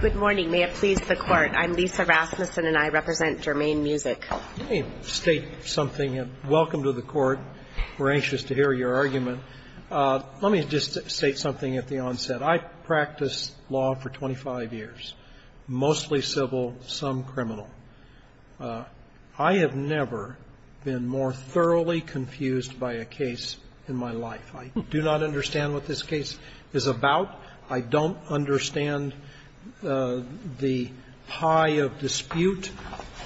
Good morning. May it please the Court. I'm Lisa Rasmussen and I represent Germaine Music. Let me state something. Welcome to the Court. We're anxious to hear your argument. Let me just state something at the onset. I practiced law for 25 years, mostly civil, some criminal. I have never been more thoroughly confused by a case in my life. I do not understand what this case is about. I don't understand the pie of dispute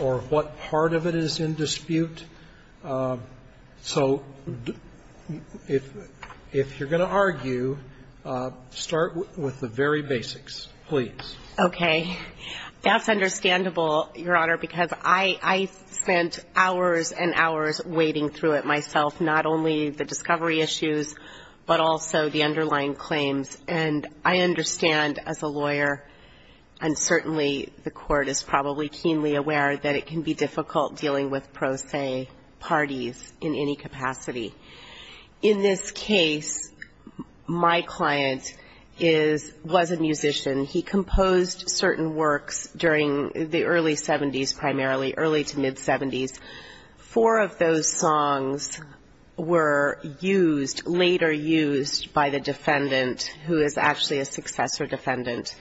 or what part of it is in dispute. So if you're going to argue, start with the very basics, please. Okay. That's understandable, Your Honor, because I spent hours and hours wading through it myself, not only the discovery issues, but also the underlying claims. And I understand as a lawyer, and certainly the Court is probably keenly aware, that it can be difficult dealing with pro se parties in any capacity. In this case, my client is – was a musician. He composed certain works during the early 70s, primarily, early to mid-70s. Four of those songs were used, later used, by the defendant, who is actually a successor defendant,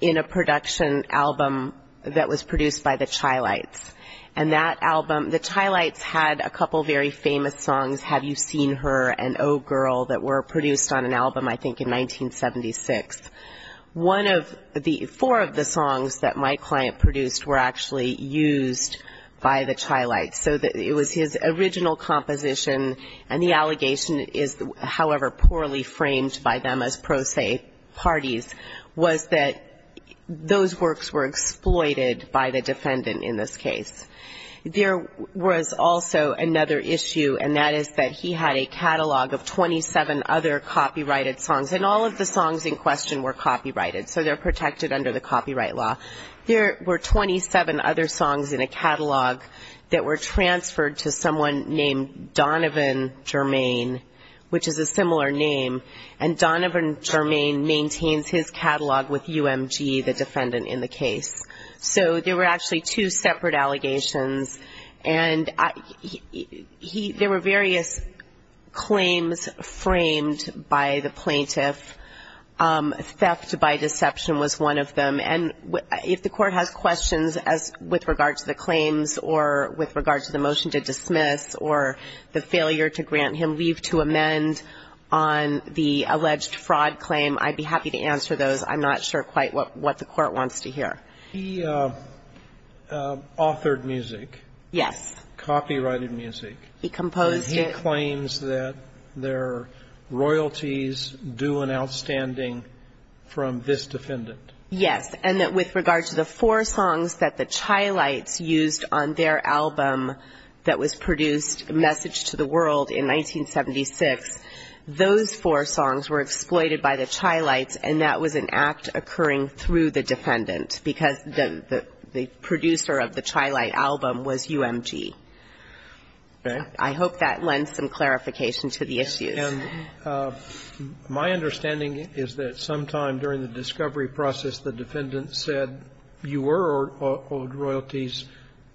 in a production album that was produced by the Chilites. And that album – the Chilites had a couple very famous songs, Have You Seen Her and Oh Girl, that were produced on an album, I think, in 1976. One of the – four of the songs that my client produced were actually used by the Chilites. So it was his original composition, and the allegation is, however poorly framed by them as pro se parties, was that those works were exploited by the defendant in this case. There was also another issue, and that is that he had a catalog of 27 other copyrighted songs. And all of the songs in question were copyrighted, so they're protected under the copyright law. There were 27 other songs in a catalog that were transferred to someone named Donovan Jermaine, which is a similar name, and Donovan Jermaine maintains his catalog with UMG, the defendant in the case. So there were actually two separate allegations, and there were various claims framed by the plaintiff. Theft by deception was one of them. And if the court has questions with regard to the claims or with regard to the motion to dismiss or the failure to grant him leave to amend on the alleged fraud claim, I'd be happy to answer those. I'm not sure quite what the court wants to hear. He authored music. Yes. Copyrighted music. He composed it. And he claims that there are royalties due and outstanding from this defendant. Yes, and that with regard to the four songs that the Chilites used on their album that was produced, Message to the World, in 1976, those four songs were exploited by the Chilites, and that was an act occurring through the defendant, because the producer of the Chilite album was UMG. Right. I hope that lends some clarification to the issue. And my understanding is that sometime during the discovery process, the defendant said you were owed royalties.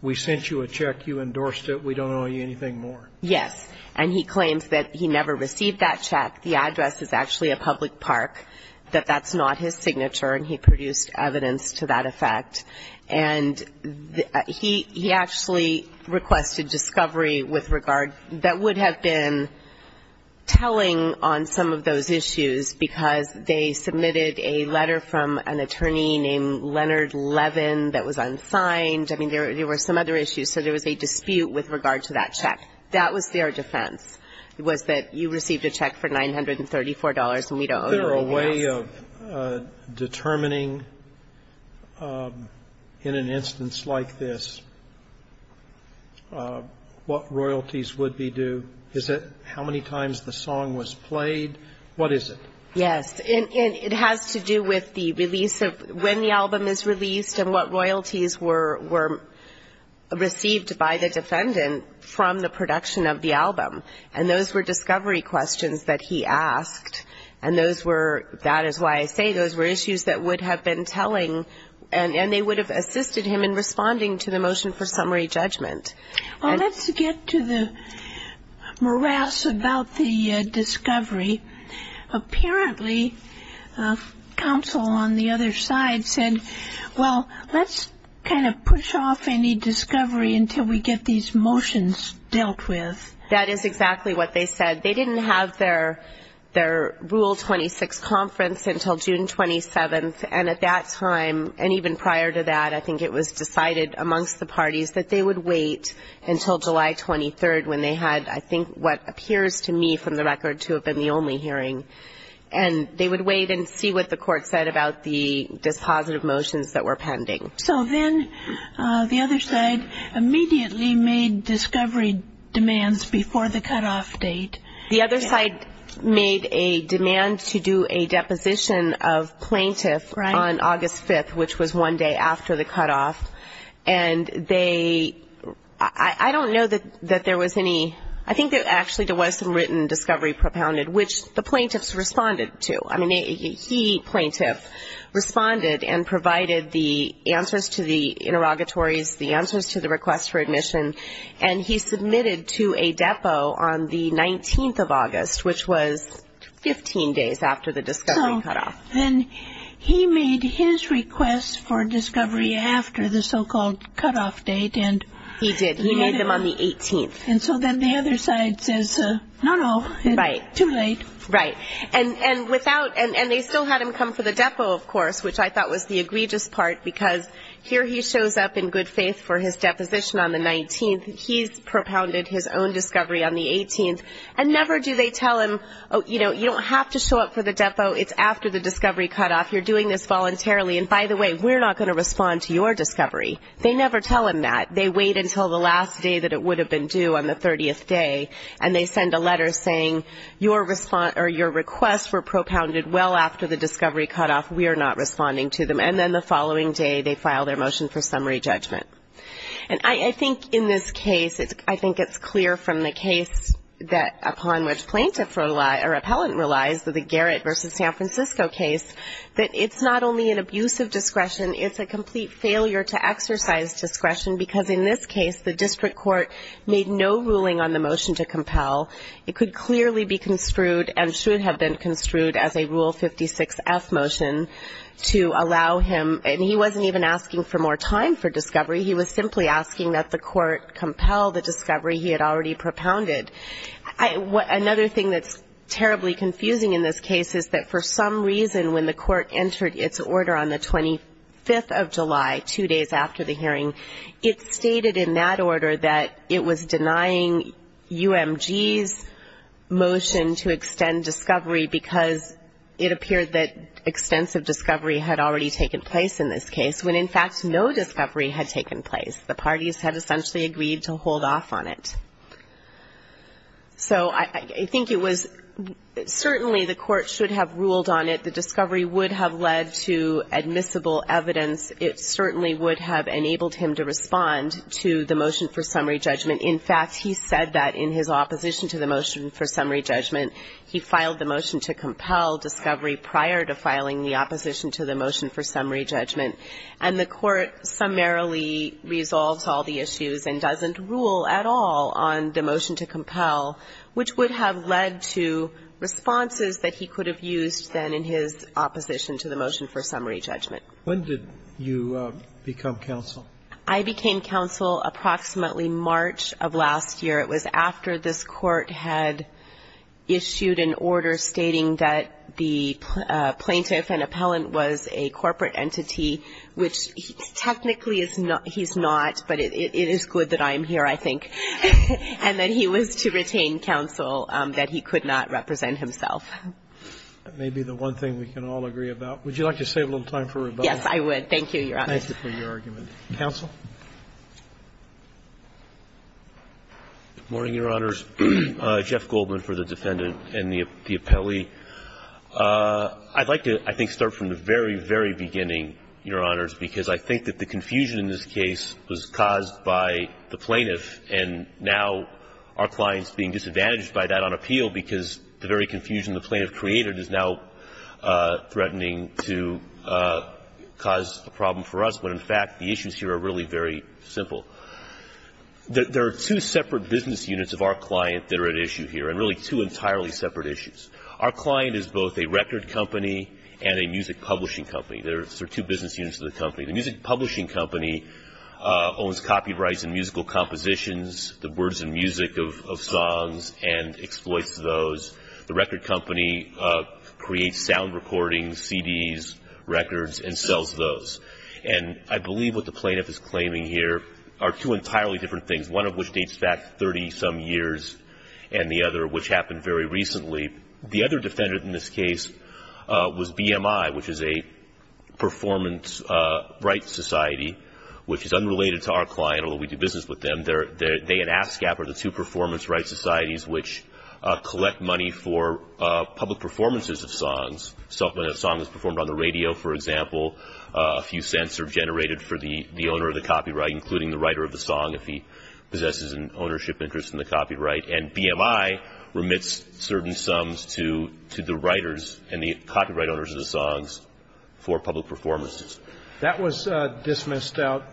We sent you a check. You endorsed it. We don't owe you anything more. Yes. And he claims that he never received that check. The address is actually a public park, that that's not his signature, and he produced evidence to that effect. And he actually requested discovery with regard that would have been telling on some of those issues, because they submitted a letter from an attorney named Leonard Levin that was unsigned. I mean, there were some other issues. So there was a dispute with regard to that check. That was their defense, was that you received a check for $934, and we don't owe you anything else. Is there a way of determining in an instance like this what royalties would be due? Is it how many times the song was played? What is it? Yes. And it has to do with the release of when the album is released and what royalties were received by the defendant from the production of the album. And those were discovery questions that he asked. And those were, that is why I say those were issues that would have been telling, and they would have assisted him in responding to the motion for summary judgment. Well, let's get to the morass about the discovery. Apparently, counsel on the other side said, well, let's kind of push off any discovery until we get these motions dealt with. That is exactly what they said. They didn't have their rule 26 conference until June 27th, and at that time, and even prior to that, I think it was decided amongst the parties that they would wait until July 23rd when they had I think what appears to me from the record to have been the only hearing. And they would wait and see what the court said about the dispositive motions that were pending. So then the other side immediately made discovery demands before the cutoff date. The other side made a demand to do a deposition of plaintiff on August 5th, which was one day after the cutoff. And they, I don't know that there was any, I think that actually there was some written discovery propounded, which the plaintiffs responded to. I mean, he, plaintiff, responded and provided the answers to the interrogatories, the answers to the request for admission. And he submitted to a depo on the 19th of August, which was 15 days after the discovery cutoff. So then he made his request for discovery after the so-called cutoff date. He did. He made them on the 18th. And so then the other side says, no, no, too late. Right. And without, and they still had him come for the depo, of course, which I thought was the egregious part because here he shows up in good faith for his deposition on the 19th. He's propounded his own discovery on the 18th. And never do they tell him, you know, you don't have to show up for the depo. It's after the discovery cutoff. You're doing this voluntarily. And, by the way, we're not going to respond to your discovery. They never tell him that. They wait until the last day that it would have been due on the 30th day, and they send a letter saying your request were propounded well after the discovery cutoff. We are not responding to them. And then the following day they file their motion for summary judgment. And I think in this case, I think it's clear from the case upon which plaintiff or appellant relies, the Garrett v. San Francisco case, that it's not only an abuse of discretion, it's a complete failure to exercise discretion because, in this case, the district court made no ruling on the motion to compel. It could clearly be construed and should have been construed as a Rule 56F motion to allow him and he wasn't even asking for more time for discovery. He was simply asking that the court compel the discovery he had already propounded. Another thing that's terribly confusing in this case is that, for some reason, when the court entered its order on the 25th of July, two days after the hearing, it stated in that order that it was denying UMG's motion to extend discovery because it appeared that extensive discovery had already taken place in this case, when, in fact, no discovery had taken place. The parties had essentially agreed to hold off on it. So I think it was certainly the court should have ruled on it. The discovery would have led to admissible evidence. It certainly would have enabled him to respond to the motion for summary judgment. In fact, he said that in his opposition to the motion for summary judgment, he filed the motion to compel discovery prior to filing the opposition to the motion for summary judgment. And the court summarily resolves all the issues and doesn't rule at all on the motion to compel, which would have led to responses that he could have used then in his opposition to the motion for summary judgment. When did you become counsel? I became counsel approximately March of last year. It was after this court had issued an order stating that the plaintiff and appellant was a corporate entity, which technically he's not, but it is good that I'm here, I think, and that he was to retain counsel, that he could not represent himself. That may be the one thing we can all agree about. Would you like to save a little time for rebuttal? Yes, I would. Thank you, Your Honor. Thank you for your argument. Counsel? Good morning, Your Honors. Jeff Goldman for the defendant and the appellee. I'd like to, I think, start from the very, very beginning, Your Honors, because I think that the confusion in this case was caused by the plaintiff, and now our client is being disadvantaged by that on appeal because the very confusion the plaintiff created is now threatening to cause a problem for us. But, in fact, the issues here are really very simple. There are two separate business units of our client that are at issue here, and really two entirely separate issues. Our client is both a record company and a music publishing company. There are two business units of the company. The music publishing company owns copyrights and musical compositions, the words and music of songs, and exploits those. The record company creates sound recordings, CDs, records, and sells those. And I believe what the plaintiff is claiming here are two entirely different things, one of which dates back 30-some years and the other which happened very recently. The other defendant in this case was BMI, which is a performance rights society, which is unrelated to our client, although we do business with them. And they and ASCAP are the two performance rights societies which collect money for public performances of songs. So when a song is performed on the radio, for example, a few cents are generated for the owner of the copyright, including the writer of the song if he possesses an ownership interest in the copyright. And BMI remits certain sums to the writers and the copyright owners of the songs for public performances. That was dismissed out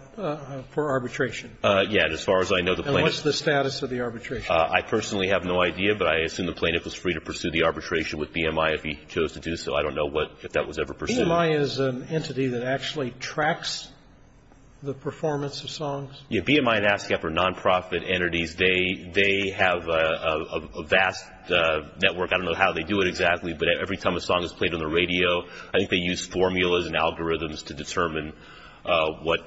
for arbitration. Yeah. And as far as I know, the plaintiff ---- And what's the status of the arbitration? I personally have no idea, but I assume the plaintiff was free to pursue the arbitration with BMI if he chose to do so. I don't know if that was ever pursued. BMI is an entity that actually tracks the performance of songs? Yeah. BMI and ASCAP are nonprofit entities. They have a vast network. I don't know how they do it exactly, but every time a song is played on the radio, I think they use formulas and algorithms to determine what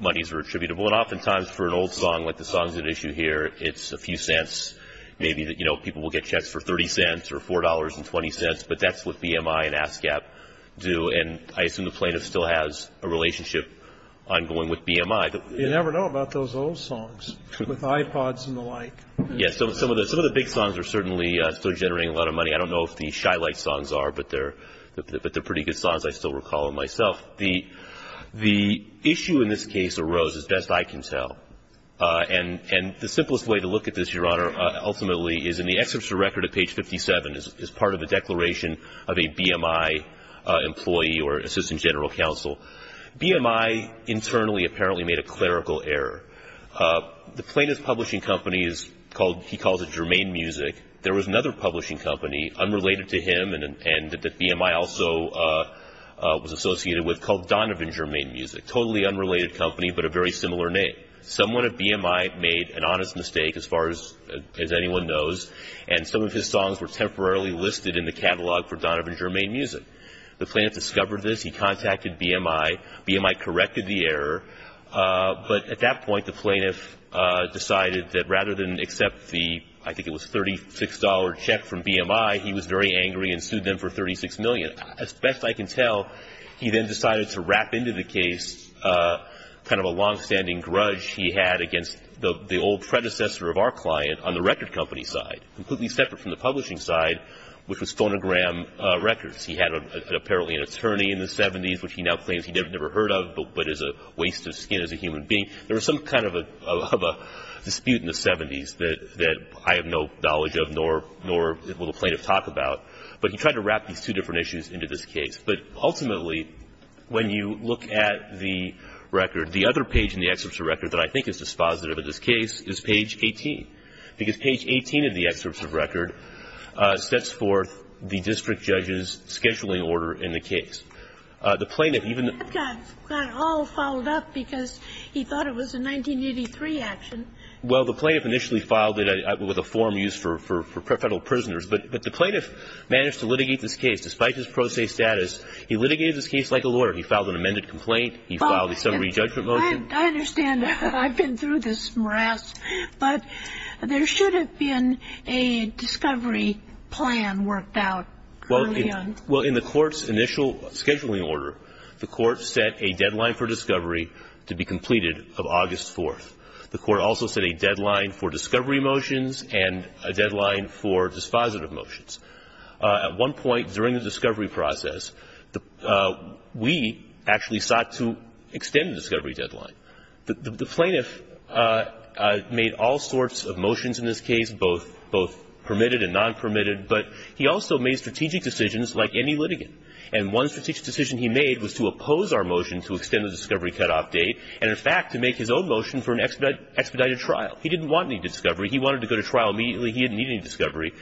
monies are attributable. And oftentimes for an old song, like the song's at issue here, it's a few cents. Maybe people will get checks for 30 cents or $4.20, but that's what BMI and ASCAP do. And I assume the plaintiff still has a relationship ongoing with BMI. You never know about those old songs with iPods and the like. Yeah. Some of the big songs are certainly still generating a lot of money. I don't know if the Shy Light songs are, but they're pretty good songs. I still recall them myself. The issue in this case arose, as best I can tell, and the simplest way to look at this, Your Honor, ultimately, is in the excerpts of record at page 57 as part of a declaration of a BMI employee or assistant general counsel. BMI internally apparently made a clerical error. The plaintiff's publishing company is called, he calls it Germaine Music. There was another publishing company unrelated to him and that BMI also was associated with called Donovan Germaine Music, a totally unrelated company but a very similar name. Someone at BMI made an honest mistake, as far as anyone knows, and some of his songs were temporarily listed in the catalog for Donovan Germaine Music. The plaintiff discovered this. He contacted BMI. BMI corrected the error. But at that point, the plaintiff decided that rather than accept the, I think it was, $36 check from BMI, he was very angry and sued them for $36 million. As best I can tell, he then decided to wrap into the case kind of a longstanding grudge he had against the old predecessor of our client on the record company side, completely separate from the publishing side, which was Phonogram Records. He had apparently an attorney in the 70s, which he now claims he never heard of but is a waste of skin as a human being. There was some kind of a dispute in the 70s that I have no knowledge of nor will the plaintiff talk about, but he tried to wrap these two different issues into this case. But ultimately, when you look at the record, the other page in the excerpts of record that I think is dispositive of this case is page 18, because page 18 of the excerpts of record sets forth the district judge's scheduling order in the case. It got all followed up because he thought it was a 1983 action. Well, the plaintiff initially filed it with a form used for federal prisoners, but the plaintiff managed to litigate this case. Despite his pro se status, he litigated this case like a lawyer. He filed an amended complaint. He filed a summary judgment motion. I understand. I've been through this morass. But there should have been a discovery plan worked out early on. Well, in the court's initial scheduling order, the court set a deadline for discovery to be completed of August 4th. The court also set a deadline for discovery motions and a deadline for dispositive motions. At one point during the discovery process, we actually sought to extend the discovery deadline. The plaintiff made all sorts of motions in this case, both permitted and non-permitted, but he also made strategic decisions like any litigant. And one strategic decision he made was to oppose our motion to extend the discovery cutoff date and, in fact, to make his own motion for an expedited trial. He didn't want any discovery. He wanted to go to trial immediately. He didn't need any discovery.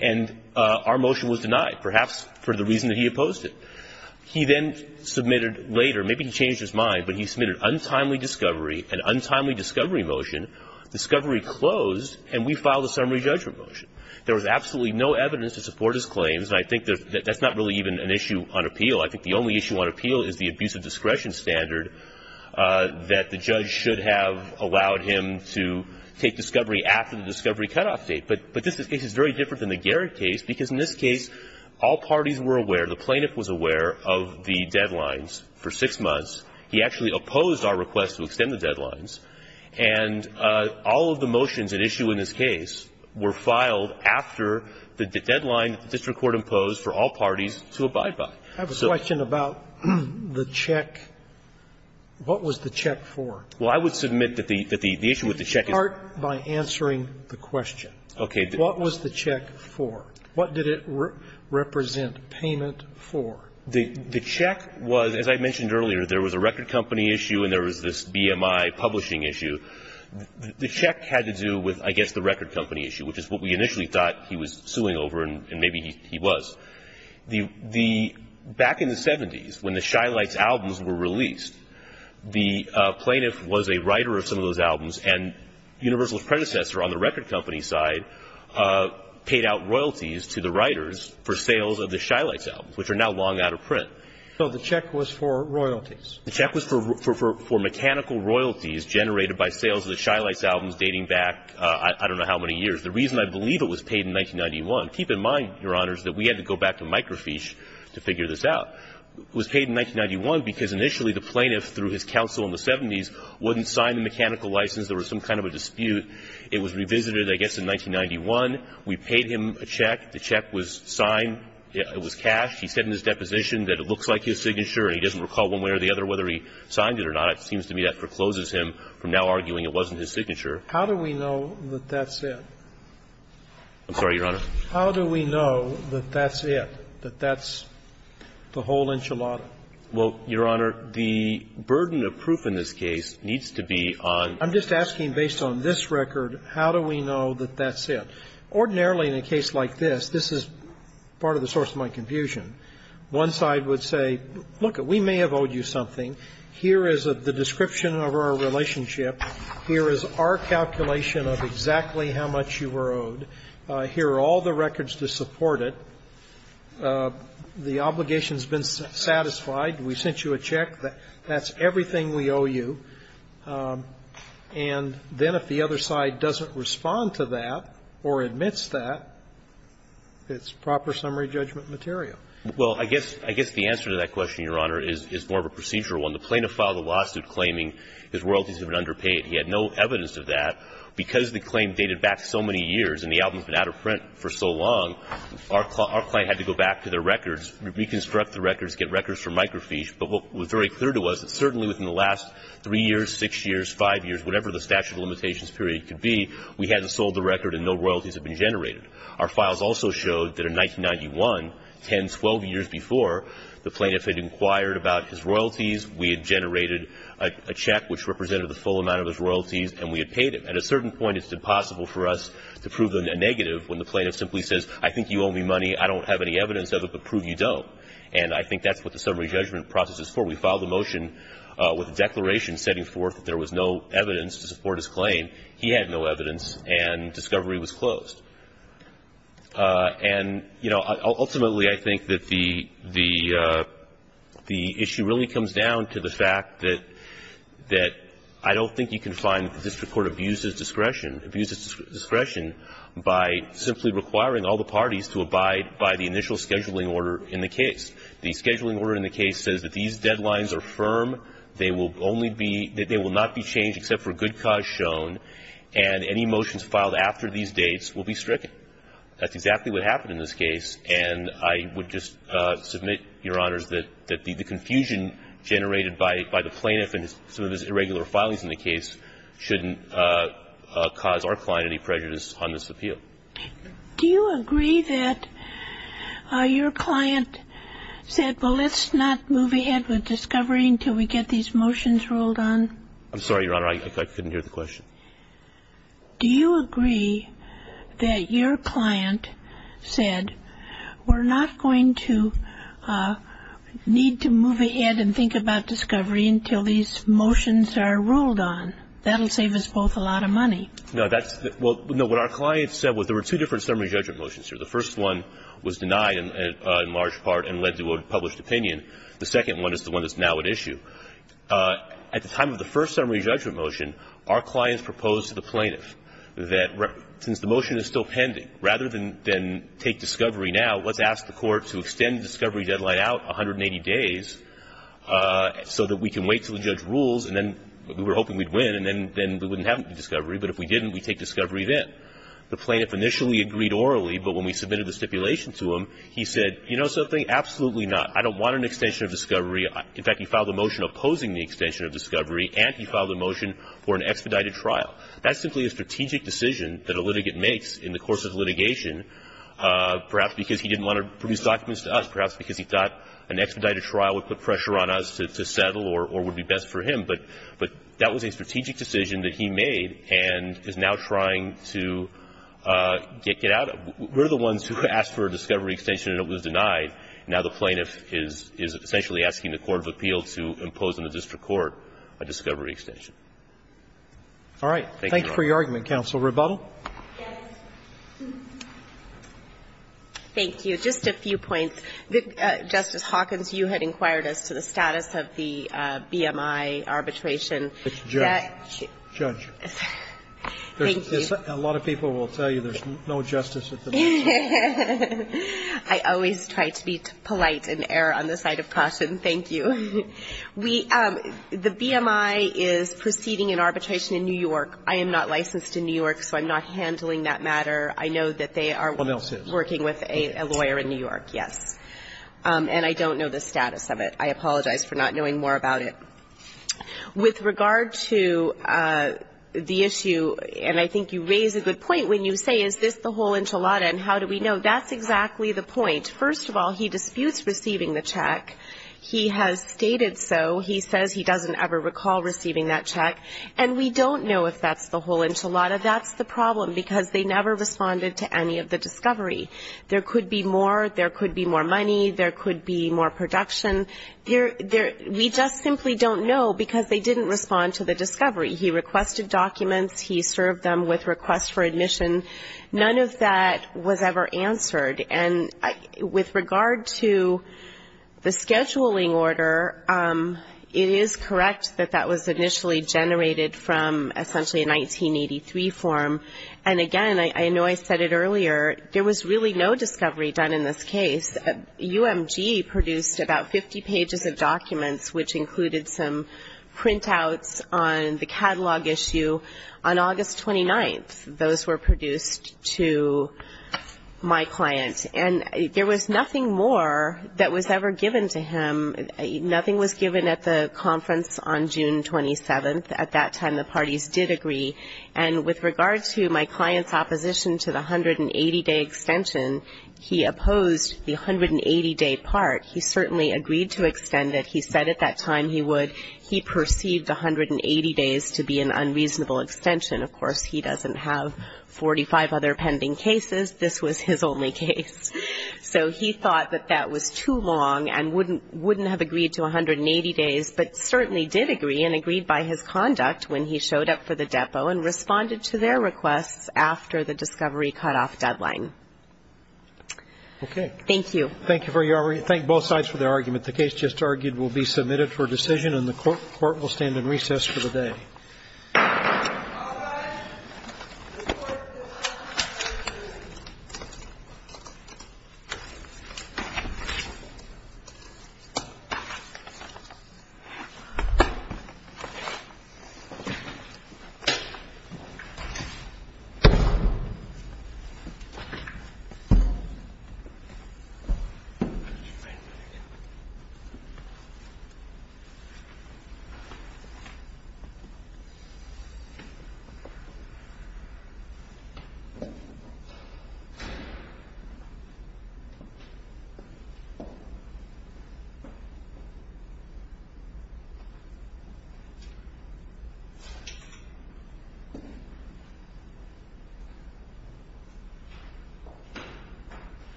And our motion was denied, perhaps for the reason that he opposed it. He then submitted later, maybe he changed his mind, but he submitted untimely discovery, an untimely discovery motion, discovery closed, and we filed a summary judgment motion. There was absolutely no evidence to support his claims. And I think that's not really even an issue on appeal. I think the only issue on appeal is the abuse of discretion standard that the judge should have allowed him to take discovery after the discovery cutoff date. But this case is very different than the Garrett case, because in this case, all parties were aware, the plaintiff was aware of the deadlines for six months. He actually opposed our request to extend the deadlines. And all of the motions at issue in this case were filed after the deadline that the district court imposed for all parties to abide by. I have a question about the check. What was the check for? Well, I would submit that the issue with the check is. Start by answering the question. Okay. What was the check for? What did it represent payment for? The check was, as I mentioned earlier, there was a record company issue and there was a managing issue. The check had to do with, I guess, the record company issue, which is what we initially thought he was suing over, and maybe he was. Back in the 70s, when the Shy Lights albums were released, the plaintiff was a writer of some of those albums, and Universal's predecessor on the record company side paid out royalties to the writers for sales of the Shy Lights albums, which are now long out of print. So the check was for royalties. The check was for mechanical royalties generated by sales of the Shy Lights albums dating back I don't know how many years. The reason I believe it was paid in 1991, keep in mind, Your Honors, that we had to go back to Mike Rafiche to figure this out. It was paid in 1991 because initially the plaintiff, through his counsel in the 70s, wouldn't sign the mechanical license. There was some kind of a dispute. It was revisited, I guess, in 1991. We paid him a check. The check was signed. It was cashed. He said in his deposition that it looks like his signature and he doesn't recall one way or the other whether he signed it or not. It seems to me that forecloses him from now arguing it wasn't his signature. How do we know that that's it? I'm sorry, Your Honor. How do we know that that's it, that that's the whole enchilada? Well, Your Honor, the burden of proof in this case needs to be on the record. I'm just asking based on this record, how do we know that that's it? Ordinarily in a case like this, this is part of the source of my confusion. One side would say, look, we may have owed you something. Here is the description of our relationship. Here is our calculation of exactly how much you were owed. Here are all the records to support it. The obligation has been satisfied. We sent you a check. That's everything we owe you. And then if the other side doesn't respond to that or admits that, it's proper summary judgment material. Well, I guess the answer to that question, Your Honor, is more of a procedural one. The plaintiff filed a lawsuit claiming his royalties had been underpaid. He had no evidence of that. Because the claim dated back so many years and the album had been out of print for so long, our client had to go back to their records, reconstruct the records, get records for microfiche. But what was very clear to us is certainly within the last three years, six years, five years, whatever the statute of limitations period could be, we hadn't sold the record and no royalties had been generated. Our files also showed that in 1991, 10, 12 years before, the plaintiff had inquired about his royalties, we had generated a check which represented the full amount of his royalties, and we had paid him. At a certain point, it's impossible for us to prove a negative when the plaintiff simply says, I think you owe me money, I don't have any evidence of it, but prove you don't. And I think that's what the summary judgment process is for. We filed a motion with a declaration setting forth that there was no evidence to support his claim. He had no evidence, and discovery was closed. And, you know, ultimately, I think that the issue really comes down to the fact that I don't think you can find the district court abuses discretion, abuses discretion by simply requiring all the parties to abide by the initial scheduling order in the case. The scheduling order in the case says that these deadlines are firm, they will only be – that they will not be changed except for good cause shown, and any motions filed after these dates will be stricken. That's exactly what happened in this case. And I would just submit, Your Honors, that the confusion generated by the plaintiff and some of his irregular filings in the case shouldn't cause our client any prejudice on this appeal. Do you agree that your client said, well, let's not move ahead with discovery until we get these motions rolled on? I'm sorry, Your Honor. I couldn't hear the question. Do you agree that your client said, we're not going to need to move ahead and think about discovery until these motions are rolled on? That will save us both a lot of money. No, that's – well, no, what our client said was there were two different summary judgment motions here. The first one was denied in large part and led to a published opinion. The second one is the one that's now at issue. At the time of the first summary judgment motion, our clients proposed to the plaintiff that since the motion is still pending, rather than take discovery now, let's ask the court to extend the discovery deadline out 180 days so that we can wait until the judge rules, and then we were hoping we'd win, and then we wouldn't have the discovery. But if we didn't, we'd take discovery then. The plaintiff initially agreed orally, but when we submitted the stipulation to him, he said, you know something, absolutely not. I don't want an extension of discovery. In fact, he filed a motion opposing the extension of discovery, and he filed a motion for an expedited trial. That's simply a strategic decision that a litigant makes in the course of litigation, perhaps because he didn't want to produce documents to us, perhaps because he thought an expedited trial would put pressure on us to settle or would be best for him. But that was a strategic decision that he made and is now trying to get out of it. We're the ones who asked for a discovery extension and it was denied. Now the plaintiff is essentially asking the court of appeal to impose on the district court a discovery extension. Thank you, Your Honor. Roberts. Thank you for your argument, counsel. Rebuttal? Yes. Thank you. Just a few points. Justice Hawkins, you had inquired as to the status of the BMI arbitration. It's judged. Judged. Thank you. A lot of people will tell you there's no justice at the next one. I always try to be polite and err on the side of caution. Thank you. The BMI is proceeding an arbitration in New York. I am not licensed in New York, so I'm not handling that matter. I know that they are working with a lawyer in New York. Yes. And I don't know the status of it. I apologize for not knowing more about it. With regard to the issue, and I think you raise a good point when you say is this the whole enchilada and how do we know? That's exactly the point. First of all, he disputes receiving the check. He has stated so. He says he doesn't ever recall receiving that check. And we don't know if that's the whole enchilada. That's the problem because they never responded to any of the discovery. There could be more. There could be more money. There could be more production. We just simply don't know because they didn't respond to the discovery. He requested documents. He served them with requests for admission. None of that was ever answered. And with regard to the scheduling order, it is correct that that was initially generated from essentially a 1983 form. And, again, I know I said it earlier, there was really no discovery done in this case. UMG produced about 50 pages of documents, which included some printouts on the catalog issue on August 29th. Those were produced to my client. And there was nothing more that was ever given to him. Nothing was given at the conference on June 27th. At that time, the parties did agree. And with regard to my client's opposition to the 180-day extension, he opposed the 180-day part. He certainly agreed to extend it. He said at that time he would. He perceived the 180 days to be an unreasonable extension. Of course, he doesn't have 45 other pending cases. This was his only case. So he thought that that was too long and wouldn't have agreed to 180 days, but certainly did agree and agreed by his conduct when he showed up for the depot and responded to their requests after the discovery cutoff deadline. Okay. Thank you. Thank you very much. I thank both sides for their argument. The case just argued will be submitted for decision, and the Court will stand in recess for the day. All rise. Thank you. Thank you.